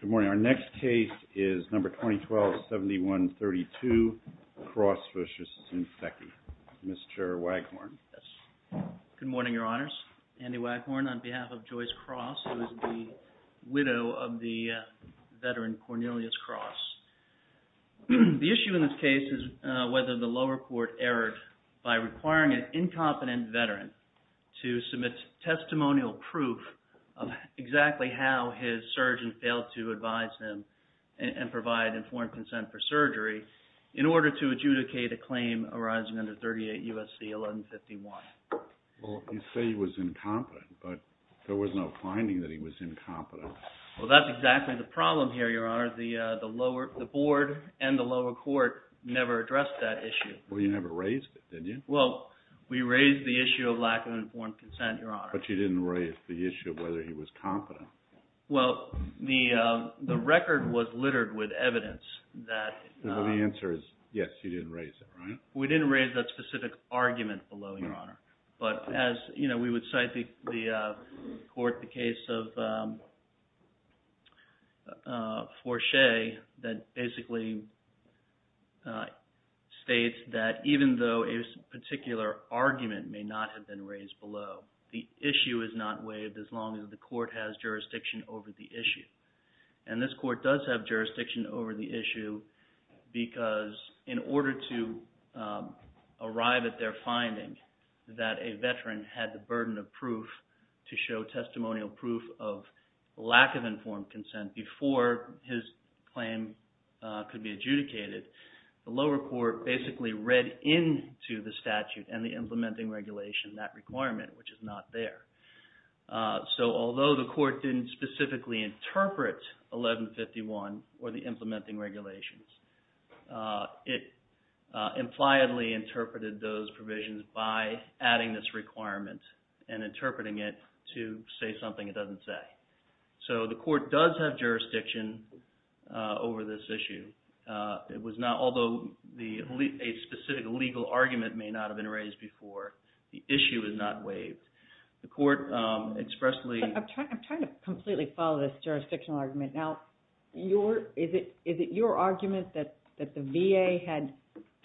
Good morning. Our next case is No. 2012-7132, Cross v. Shinseki. Mr. Waghorn. Good morning, Your Honors. Andy Waghorn on behalf of JOYCE CROSS, who is the widow of the veteran Cornelius Cross. The issue in this case is whether the lower court erred by requiring an incompetent veteran to submit testimonial proof of exactly how his surgeon failed to advise him and provide informed consent for surgery in order to adjudicate a claim arising under 38 U.S.C. 1151. Well, you say he was incompetent, but there was no finding that he was incompetent. Well, that's exactly the problem here, Your Honor. The lower – the board and the lower court never addressed that issue. Well, you never raised it, did you? Well, we raised the issue of lack of informed consent, Your Honor. But you didn't raise the issue of whether he was competent. Well, the record was littered with evidence that – The answer is yes, you didn't raise it, right? We didn't raise that specific argument below, Your Honor. But as – you know, we would cite the court, the case of Forche that basically states that even though a particular argument may not have been raised below, the issue is not waived as long as the court has jurisdiction over the issue. And this court does have jurisdiction over the issue because in order to arrive at their finding that a veteran had the burden of proof to show testimonial proof of lack of informed consent before his claim could be adjudicated, the lower court basically read into the statute and the implementing regulation that requirement, which is not there. So although the court didn't specifically interpret 1151 or the implementing regulations, it impliedly interpreted those provisions by adding this requirement and interpreting it to say something it doesn't say. So the court does have jurisdiction over this issue. It was not – although a specific legal argument may not have been raised before, the issue is not waived. The court expressly – I'm trying to completely follow this jurisdictional argument. Now, is it your argument that the VA had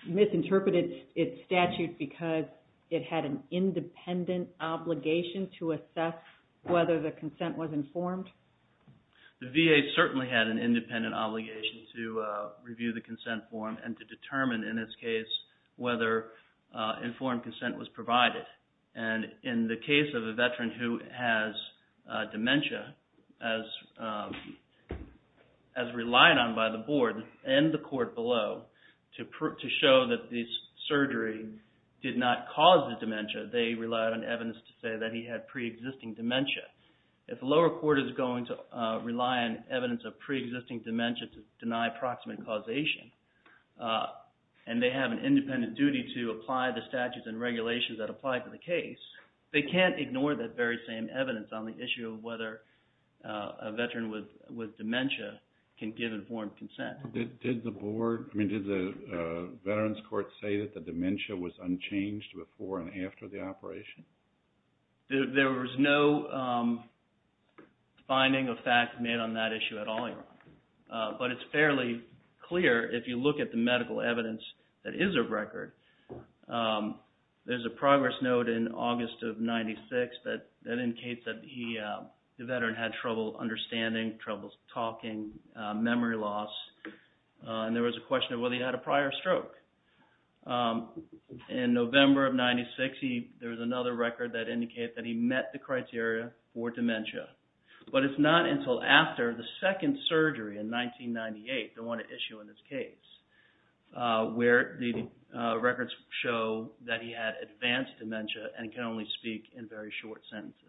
misinterpreted its statute because it had an independent obligation to assess whether the consent was informed? The VA certainly had an independent obligation to review the consent form and to determine in this case whether informed consent was provided. And in the case of a veteran who has dementia, as relied on by the board and the court below to show that this surgery did not cause the dementia, they relied on evidence to say that he had preexisting dementia. If the lower court is going to rely on evidence of preexisting dementia to deny proximate causation, and they have an independent duty to apply the statutes and regulations that apply to the case, they can't ignore that very same evidence on the issue of whether a veteran with dementia can give informed consent. Did the board – I mean, did the veterans court say that the dementia was unchanged before and after the operation? There was no finding of fact made on that issue at all, but it's fairly clear if you look at the medical evidence that is a record. There's a progress note in August of 1996 that indicates that the veteran had trouble understanding, trouble talking, memory loss, and there was a question of whether he had a prior stroke. In November of 1996, there was another record that indicated that he met the criteria for dementia, but it's not until after the second surgery in 1998, the one at issue in this case, where the records show that he had advanced dementia and can only speak in very short sentences.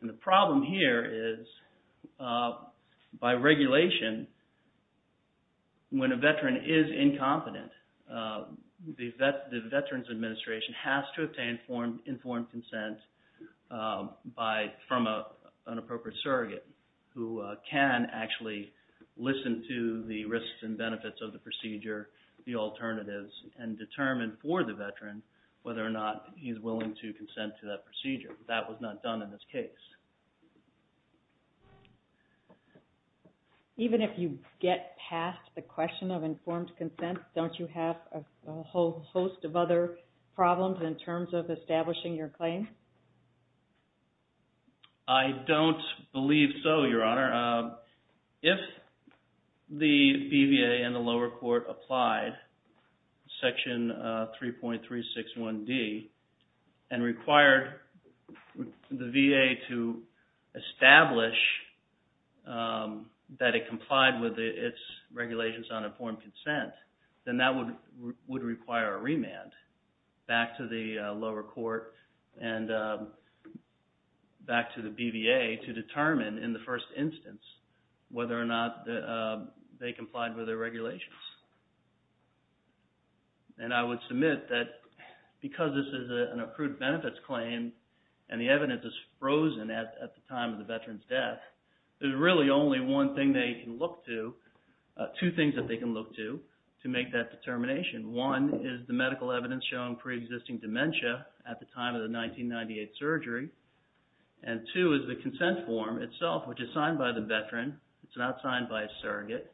And the problem here is by regulation, when a veteran is incompetent, the Veterans Administration has to obtain informed consent from an appropriate surrogate who can actually listen to the risks and benefits of the procedure, the alternatives, and determine for the veteran whether or not he's willing to consent to that procedure. That was not done in this case. Even if you get past the question of informed consent, don't you have a whole host of other problems in terms of establishing your claim? I don't believe so, Your Honor. Your Honor, if the BVA and the lower court applied Section 3.361D and required the VA to establish that it complied with its regulations on informed consent, then that would require a remand back to the lower court and back to the BVA to determine, in the first instance, whether or not they complied with their regulations. And I would submit that because this is an accrued benefits claim and the evidence is frozen at the time of the veteran's death, there's really only one thing they can look to, two things that they can look to, to make that determination. One is the medical evidence showing pre-existing dementia at the time of the 1998 surgery. And two is the consent form itself, which is signed by the veteran. It's not signed by a surrogate.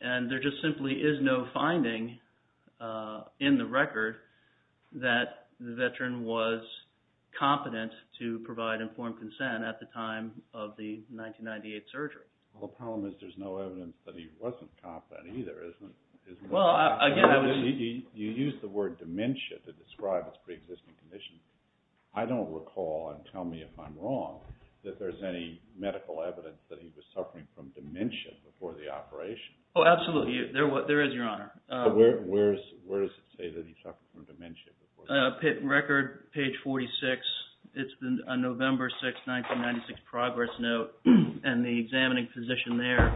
And there just simply is no finding in the record that the veteran was competent to provide informed consent at the time of the 1998 surgery. The problem is there's no evidence that he wasn't competent either, isn't there? Well, again, I was… You used the word dementia to describe his pre-existing condition. I don't recall, and tell me if I'm wrong, that there's any medical evidence that he was suffering from dementia before the operation. Oh, absolutely. There is, Your Honor. Record, page 46, it's a November 6, 1996 progress note, and the examining physician there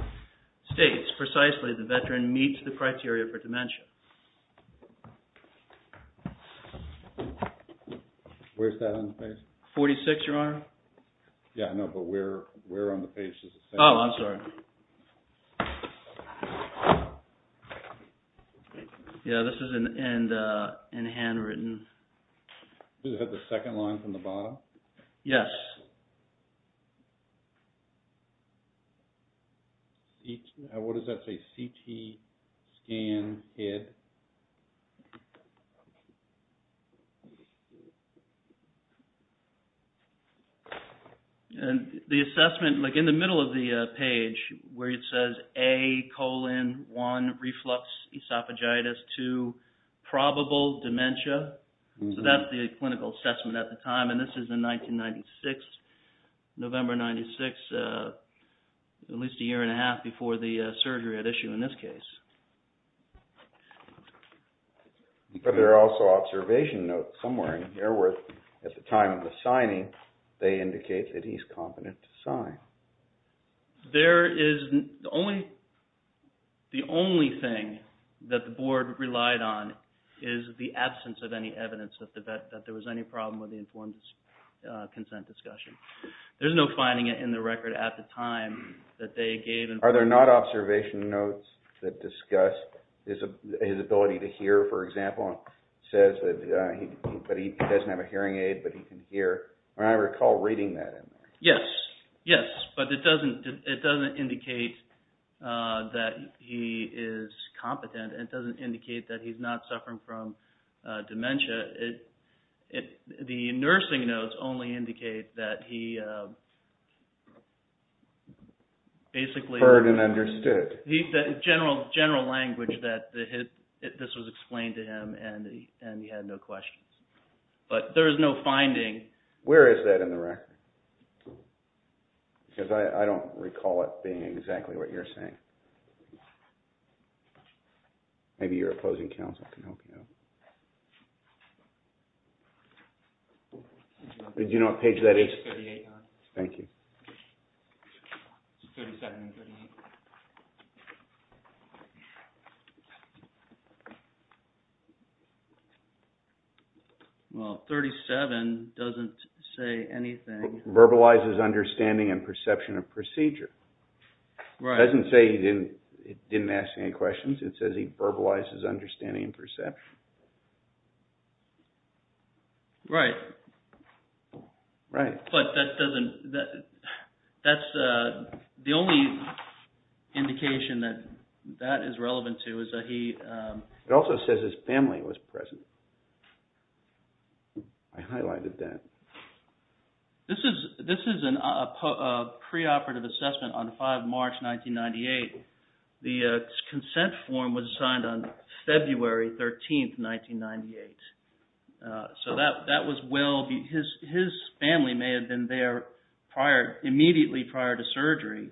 states precisely the veteran meets the criteria for dementia. Where's that on the page? 46, Your Honor. Yeah, I know, but where on the page does it say that? Oh, I'm sorry. Yeah, this is in handwritten. Is that the second line from the bottom? Yes. What does that say, CT scan head? And the assessment, like in the middle of the page where it says A, colon, 1, reflux, esophagitis, 2, probable dementia, so that's the clinical assessment at the time, and this is in 1996, November 96, at least a year and a half before the surgery had issued in this case. But there are also observation notes somewhere in here where, at the time of the signing, they indicate that he's competent to sign. There is, the only thing that the board relied on is the absence of any evidence that there was any problem with the informed consent discussion. There's no finding in the record at the time that they gave. Are there not observation notes that discuss his ability to hear, for example? It says that he doesn't have a hearing aid, but he can hear. I recall reading that in there. Yes, yes, but it doesn't indicate that he is competent. It doesn't indicate that he's not suffering from dementia. The nursing notes only indicate that he basically... Heard and understood. The general language that this was explained to him and he had no questions. But there is no finding. Where is that in the record? Because I don't recall it being exactly what you're saying. Maybe your opposing counsel can help you out. Do you know what page that is? Page 38. Thank you. Well, 37 doesn't say anything. Verbalizes understanding and perception of procedure. It doesn't say he didn't ask any questions. It says he verbalizes understanding and perception. Right. Right. But that doesn't... That's the only indication that that is relevant to is that he... It also says his family was present. I highlighted that. This is a preoperative assessment on 5 March 1998. The consent form was signed on February 13, 1998. So that was well... His family may have been there immediately prior to surgery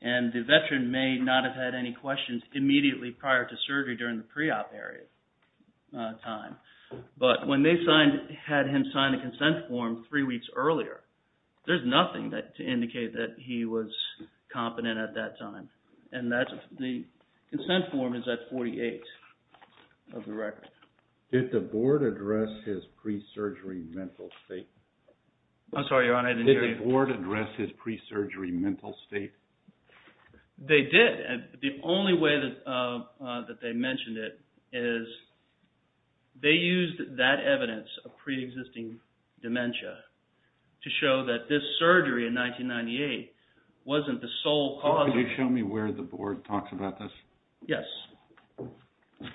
and the veteran may not have had any questions immediately prior to surgery during the pre-op period time. But when they had him sign the consent form three weeks earlier, there's nothing to indicate that he was competent at that time. And the consent form is at 48 of the record. Did the board address his pre-surgery mental state? I'm sorry, Your Honor, I didn't hear you. Did the board address his pre-surgery mental state? They did. The only way that they mentioned it is they used that evidence of pre-existing dementia to show that this surgery in 1998 wasn't the sole cause... Could you show me where the board talks about this? Yes. Okay.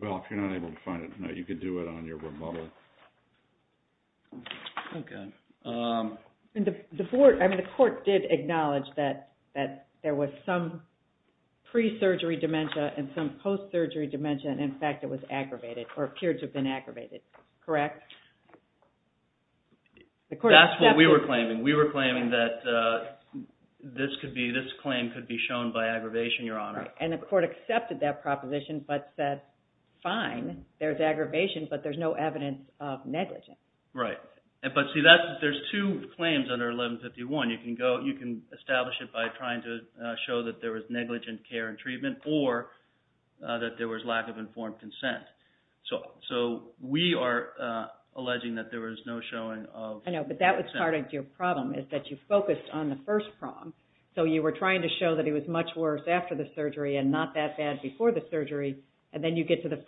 Well, if you're not able to find it, you can do it on your rebuttal. Okay. The court did acknowledge that there was some pre-surgery dementia and some post-surgery dementia, and in fact it was aggravated or appeared to have been aggravated. Correct? That's what we were claiming. We were claiming that this claim could be shown by aggravation, Your Honor. And the court accepted that proposition but said, Right. But see, there's two claims under 1151. You can establish it by trying to show that there was negligent care and treatment or that there was lack of informed consent. So we are alleging that there was no showing of... I know, but that was part of your problem is that you focused on the first prong. So you were trying to show that it was much worse after the surgery and not that bad before the surgery, and then you get to the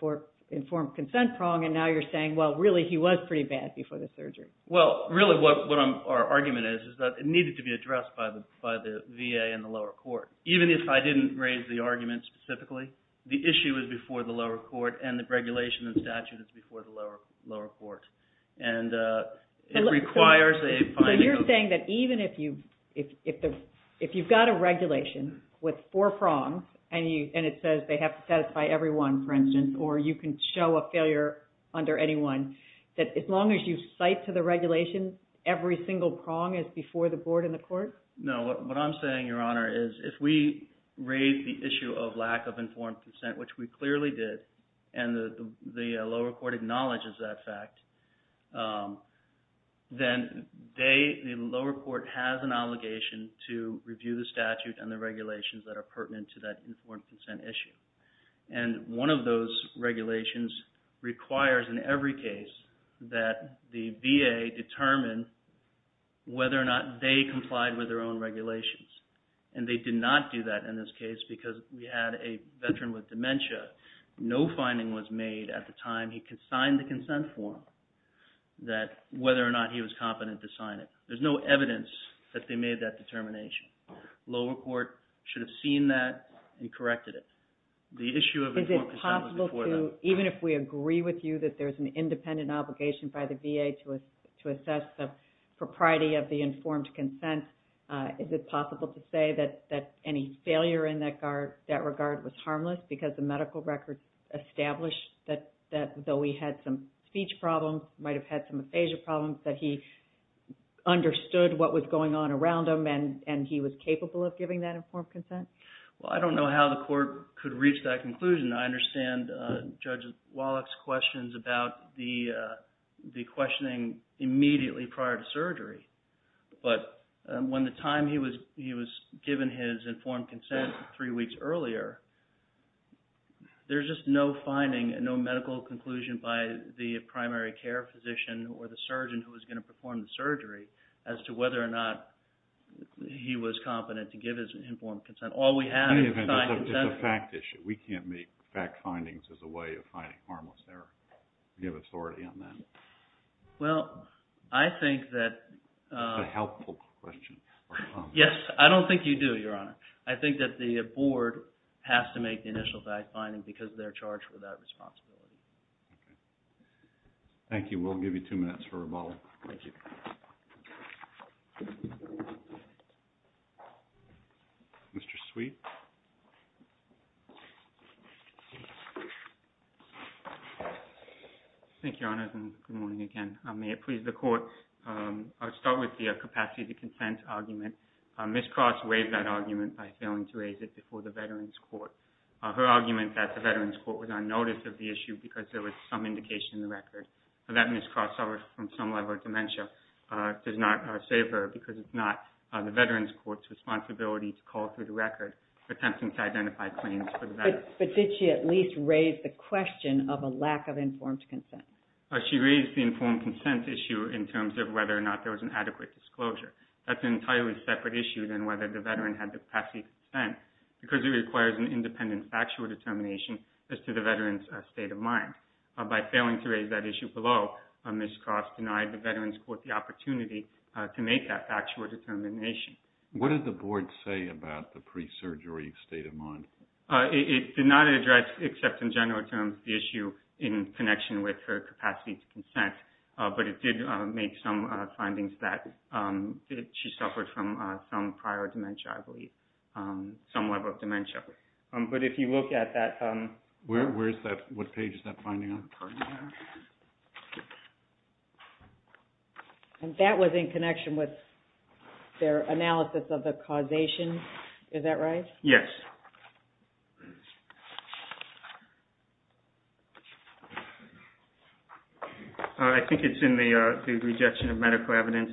informed consent prong, and now you're saying, Well, really, he was pretty bad before the surgery. Well, really, what our argument is is that it needed to be addressed by the VA and the lower court. Even if I didn't raise the argument specifically, the issue is before the lower court and the regulation and statute is before the lower court. And it requires a finding of... So you're saying that even if you've got a regulation with four prongs and it says they have to satisfy everyone, for instance, or you can show a failure under anyone, that as long as you cite to the regulation, every single prong is before the board and the court? No, what I'm saying, Your Honor, is if we raise the issue of lack of informed consent, which we clearly did, and the lower court acknowledges that fact, then the lower court has an obligation to review the statute and the regulations that are pertinent to that informed consent issue. And one of those regulations requires in every case that the VA determine whether or not they complied with their own regulations. And they did not do that in this case because we had a veteran with dementia. No finding was made at the time he signed the consent form that whether or not he was competent to sign it. There's no evidence that they made that determination. Lower court should have seen that and corrected it. The issue of informed consent was before that. Is it possible to, even if we agree with you that there's an independent obligation by the VA to assess the propriety of the informed consent, is it possible to say that any failure in that regard was harmless because the medical records establish that though he had some speech problems, might have had some aphasia problems, that he understood what was going on around him and he was capable of giving that informed consent? Well, I don't know how the court could reach that conclusion. I understand Judge Wallach's questions about the questioning immediately prior to surgery. But when the time he was given his informed consent three weeks earlier, there's just no finding, no medical conclusion by the primary care physician or the surgeon who was going to perform the surgery as to whether or not he was competent to give his informed consent. All we have is the signed consent. In any event, it's a fact issue. We can't make fact findings as a way of finding harmless error. Do you have authority on that? Well, I think that... It's a helpful question. Yes, I don't think you do, Your Honor. I think that the board has to make the initial fact finding because they're charged with that responsibility. Okay. Thank you. We'll give you two minutes for rebuttal. Thank you. Mr. Sweet. Thank you, Your Honor, and good morning again. May it please the court, I'll start with the capacity to consent argument. Ms. Cross waived that argument by failing to raise it before the Veterans Court. Her argument that the Veterans Court was on notice of the issue because there was some indication in the record that Ms. Cross suffers from some level of dementia does not save her because it's not the Veterans Court's responsibility to call through the record attempting to identify claims for the veterans. But did she at least raise the question of a lack of informed consent? She raised the informed consent issue in terms of whether or not there was an adequate disclosure. That's an entirely separate issue than whether the veteran had the capacity to consent because it requires an independent factual determination as to the veteran's state of mind. By failing to raise that issue below, Ms. Cross denied the Veterans Court the opportunity to make that factual determination. What did the board say about the pre-surgery state of mind? It did not address, except in general terms, the issue in connection with her capacity to consent, but it did make some findings that she suffered from some prior dementia, I believe, some level of dementia. But if you look at that... Where is that, what page is that finding on? Pardon me, Your Honor. And that was in connection with their analysis of the causation. Is that right? Yes. I think it's in the rejection of medical evidence.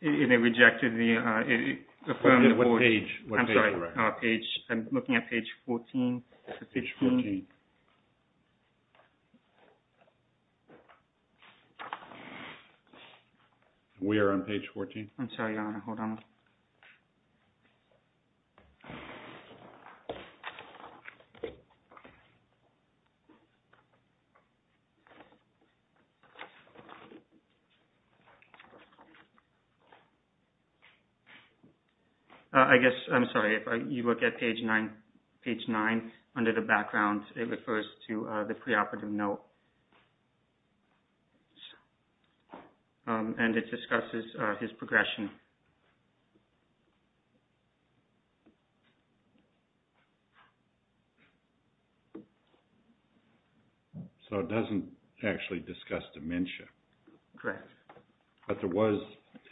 It rejected the... What page? I'm sorry, I'm looking at page 14. Page 14. We are on page 14. I'm sorry, Your Honor, hold on. I guess, I'm sorry, if you look at page 9, under the background, it refers to the preoperative note. And it discusses his progression. So it doesn't actually discuss dementia. Correct. But there was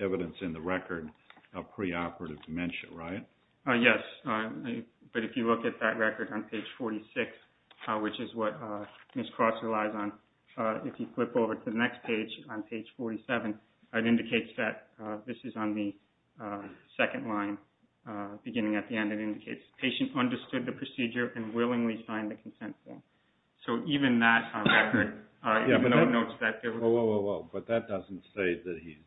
evidence in the record of preoperative dementia, right? Yes. But if you look at that record on page 46, which is what Ms. Cross relies on, if you flip over to the next page, on page 47, it indicates that this is on the preoperative note. The second line, beginning at the end, it indicates patient understood the procedure and willingly signed the consent form. So even that on record, even though it notes that... Whoa, whoa, whoa, whoa. But that doesn't say that he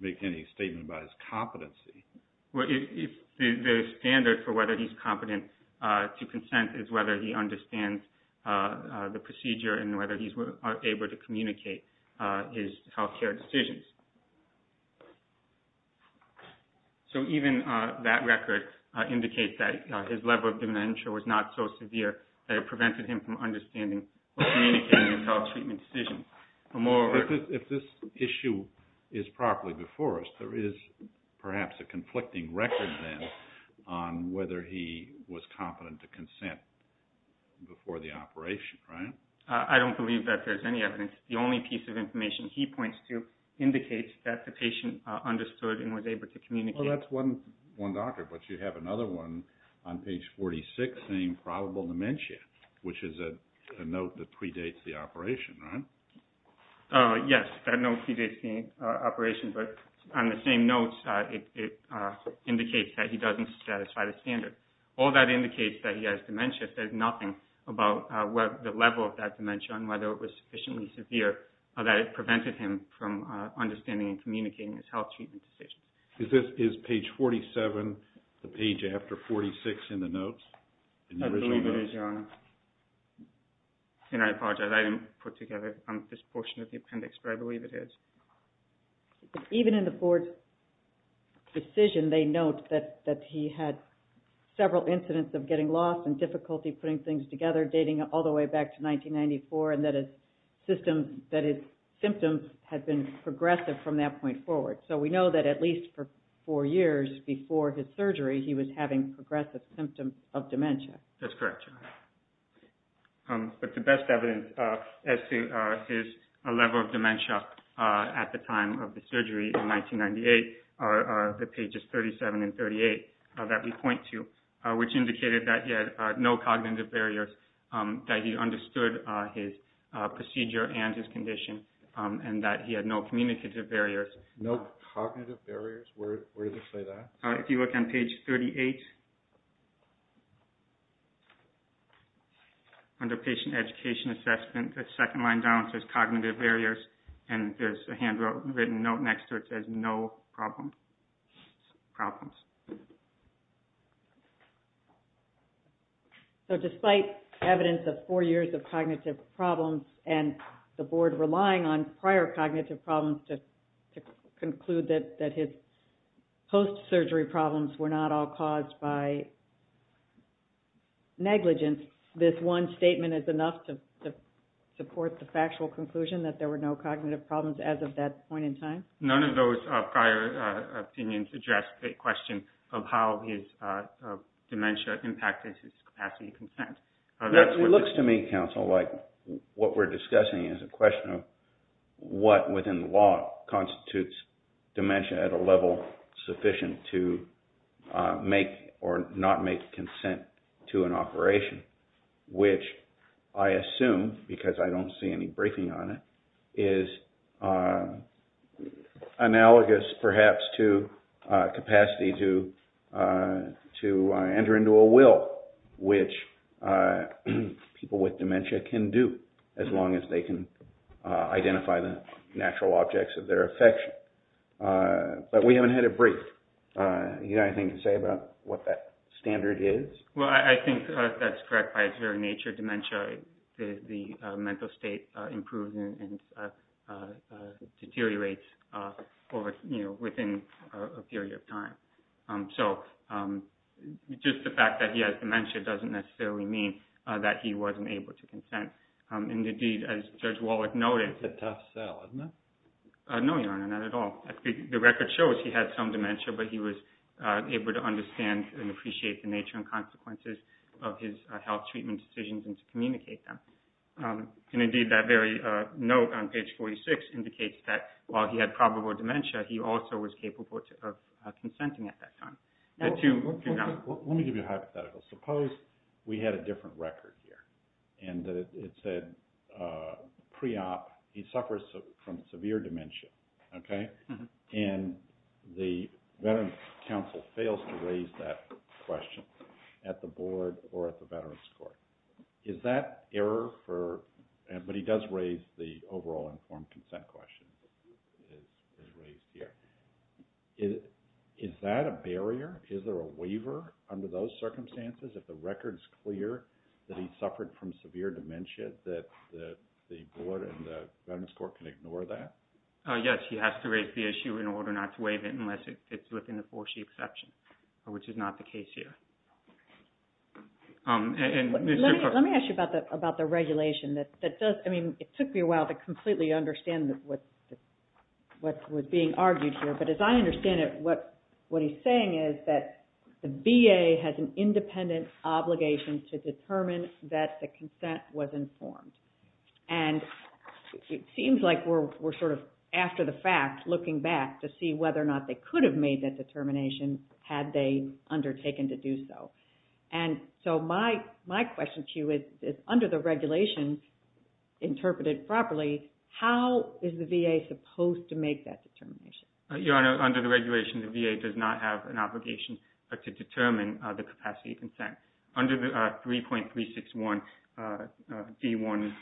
make any statement about his competency. The standard for whether he's competent to consent is whether he understands the procedure and whether he's able to communicate his health care decisions. So even that record indicates that his level of dementia was not so severe that it prevented him from understanding or communicating his health treatment decisions. If this issue is properly before us, there is perhaps a conflicting record then on whether he was competent to consent before the operation, right? I don't believe that there's any evidence. The only piece of information he points to indicates that the patient understood and was able to communicate. Well, that's one doctor, but you have another one on page 46 saying probable dementia, which is a note that predates the operation, right? Yes, that note predates the operation, but on the same notes, it indicates that he doesn't satisfy the standard. All that indicates that he has dementia. It says nothing about the level of that dementia and whether it was sufficiently severe that it prevented him from understanding and communicating his health treatment decisions. Is page 47 the page after 46 in the notes? I believe it is, Your Honor. And I apologize, I didn't put together this portion of the appendix, but I believe it is. Even in the board's decision, they note that he had several incidents of getting lost and difficulty putting things together, dating all the way back to 1994, and that his symptoms had been progressive from that point forward. So we know that at least for four years before his surgery, he was having progressive symptoms of dementia. That's correct, Your Honor. But the best evidence as to his level of dementia at the time of the surgery in 1998 are the pages 37 and 38 that we point to, which indicated that he had no cognitive barriers, that he understood his procedure and his condition, and that he had no communicative barriers. No cognitive barriers? Where does it say that? If you look on page 38, under patient education assessment, the second line down says cognitive barriers, and there's a handwritten note next to it that says no problems. So despite evidence of four years of cognitive problems and the Board relying on prior cognitive problems to conclude that his post-surgery problems were not all caused by negligence, this one statement is enough to support the factual conclusion that there were no cognitive problems as of that point in time? None of those prior opinions address the question of how his dementia impacted his capacity to consent. It looks to me, counsel, like what we're discussing is a question of what within the law constitutes dementia at a level sufficient to make or not make consent to an operation, which I assume, because I don't see any briefing on it, is analogous perhaps to capacity to enter into a will, which people with dementia can do as long as they can identify the natural objects of their affection. But we haven't had a brief. Do you have anything to say about what that standard is? Well, I think that's correct by its very nature. Dementia, the mental state improves and deteriorates within a period of time. So just the fact that he has dementia doesn't necessarily mean that he wasn't able to consent. Indeed, as Judge Wallach noted... It's a tough sell, isn't it? No, Your Honor, not at all. The record shows he had some dementia, but he was able to understand and appreciate the nature and consequences of his health treatment decisions and to communicate them. Indeed, that very note on page 46 indicates that while he had probable dementia, he also was capable of consenting at that time. Let me give you a hypothetical. Suppose we had a different record here and that it said pre-op, he suffers from severe dementia, okay? And the Veterans Council fails to raise that question at the board or at the Veterans Court. Is that error for... But he does raise the overall informed consent question. It's raised here. Is that a barrier? Is there a waiver under those circumstances? If the record's clear that he suffered from severe dementia, that the board and the Veterans Court can ignore that? Yes, he has to raise the issue in order not to waive it unless it's within the four-sheet exception, which is not the case here. Let me ask you about the regulation. It took me a while to completely understand what was being argued here, but as I understand it, what he's saying is that the VA has an independent obligation to determine that the consent was informed. And it seems like we're sort of after the fact, looking back to see whether or not they could have made that determination had they undertaken to do so. And so my question to you is, under the regulations interpreted properly, how is the VA supposed to make that determination? Your Honor, under the regulations, the VA does not have an obligation to determine the capacity of consent. Under 3.361 D.1.2,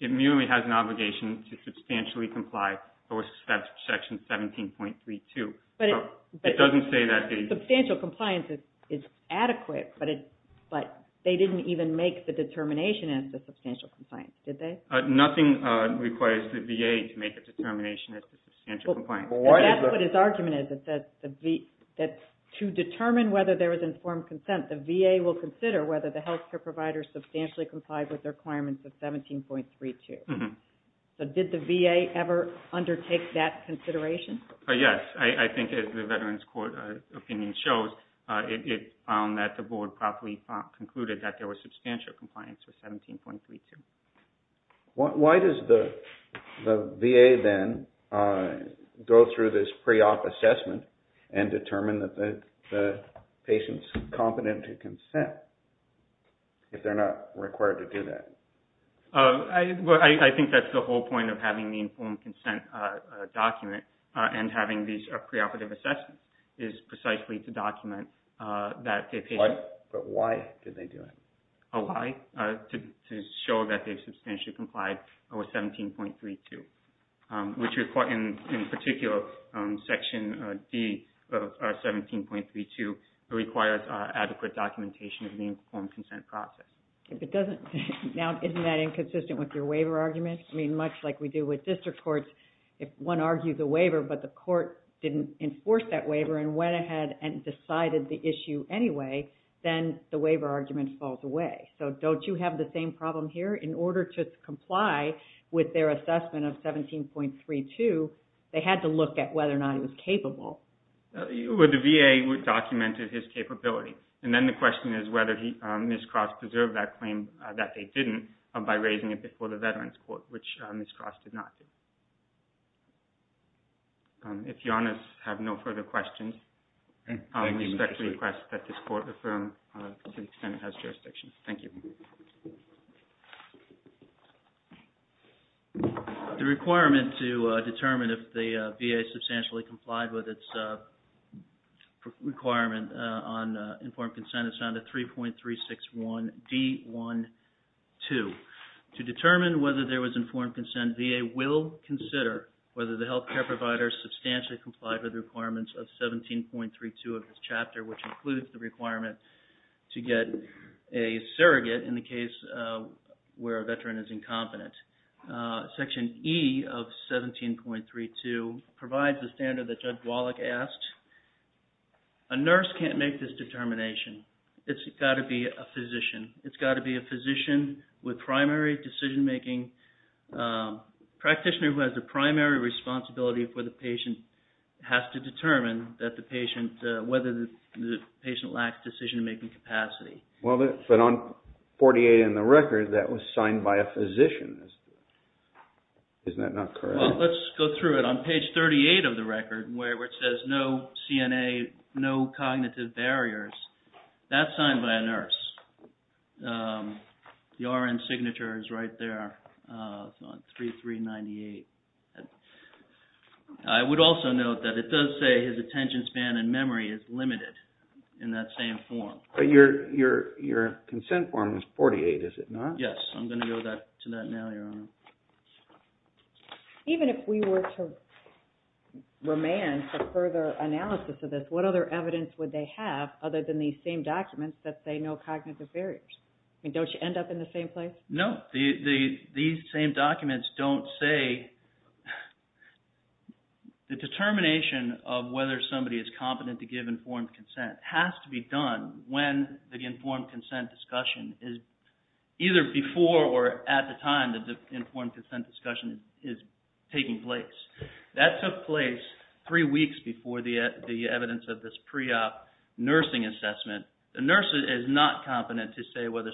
it merely has an obligation to substantially comply with Section 17.32. But it doesn't say that the... Substantial compliance is adequate, but they didn't even make the determination as to substantial compliance, did they? Nothing requires the VA to make a determination as to substantial compliance. And that's what his argument is, that to determine whether there was informed consent, the VA will consider whether the health care provider substantially complied with the requirements of 17.32. So did the VA ever undertake that consideration? Yes, I think as the Veterans Court opinion shows, it found that the Board properly concluded that there was substantial compliance with 17.32. Why does the VA then go through this pre-op assessment and determine that the patient's competent to consent if they're not required to do that? I think that's the whole point of having the informed consent document and having these preoperative assessments is precisely to document that a patient... Why? But why did they do it? Oh, why? To show that they've substantially complied with 17.32, which in particular Section D of 17.32 requires adequate documentation of the informed consent process. Now, isn't that inconsistent with your waiver argument? I mean, much like we do with district courts, if one argues a waiver but the court didn't enforce that waiver and went ahead and decided the issue anyway, then the waiver argument falls away. So don't you have the same problem here? In order to comply with their assessment of 17.32, they had to look at whether or not it was capable. The VA documented his capability. And then the question is whether Ms. Cross preserved that claim that they didn't by raising it before the Veterans Court, which Ms. Cross did not do. If your honors have no further questions, I respectfully request that this court affirm to the extent it has jurisdiction. Thank you. The requirement to determine if the VA substantially complied with its requirement on informed consent is found at 3.361 D.1.2. To determine whether there was informed consent, the VA will consider whether the health care provider substantially complied with the requirements of 17.32 of this chapter, which includes the requirement to get a surrogate in the case where a veteran is incompetent. Section E of 17.32 provides the standard that Judge Wallach asked. A nurse can't make this determination. It's got to be a physician. It's got to be a physician with primary decision-making. Practitioner who has the primary responsibility for the patient has to determine whether the patient lacks decision-making capacity. Well, but on 48 in the record, that was signed by a physician. Isn't that not correct? Well, let's go through it. On page 38 of the record, where it says, no CNA, no cognitive barriers, that's signed by a nurse. The RN signature is right there on 3398. I would also note that it does say his attention span and memory is limited in that same form. But your consent form is 48, is it not? Yes. I'm going to go to that now, Your Honor. Even if we were to remand for further analysis of this, what other evidence would they have other than these same documents that say no cognitive barriers? I mean, don't you end up in the same place? No. These same documents don't say the determination of whether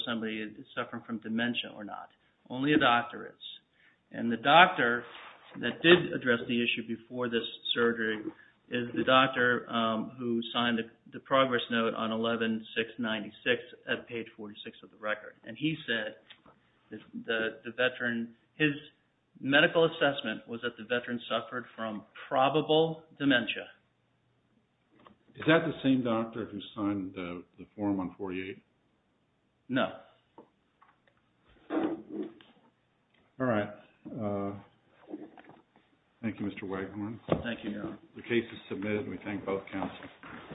somebody is suffering from dementia or not. Only a doctor is. And the doctor that did address the issue before this surgery is the doctor who signed the progress note on 11-696 at page 46 of the record. Only a doctor is. His medical assessment was that the veteran suffered from probable dementia. Is that the same doctor who signed the form on 48? No. All right. Thank you, Mr. Waghorn. Thank you, Your Honor. The case is submitted. We thank both counsels.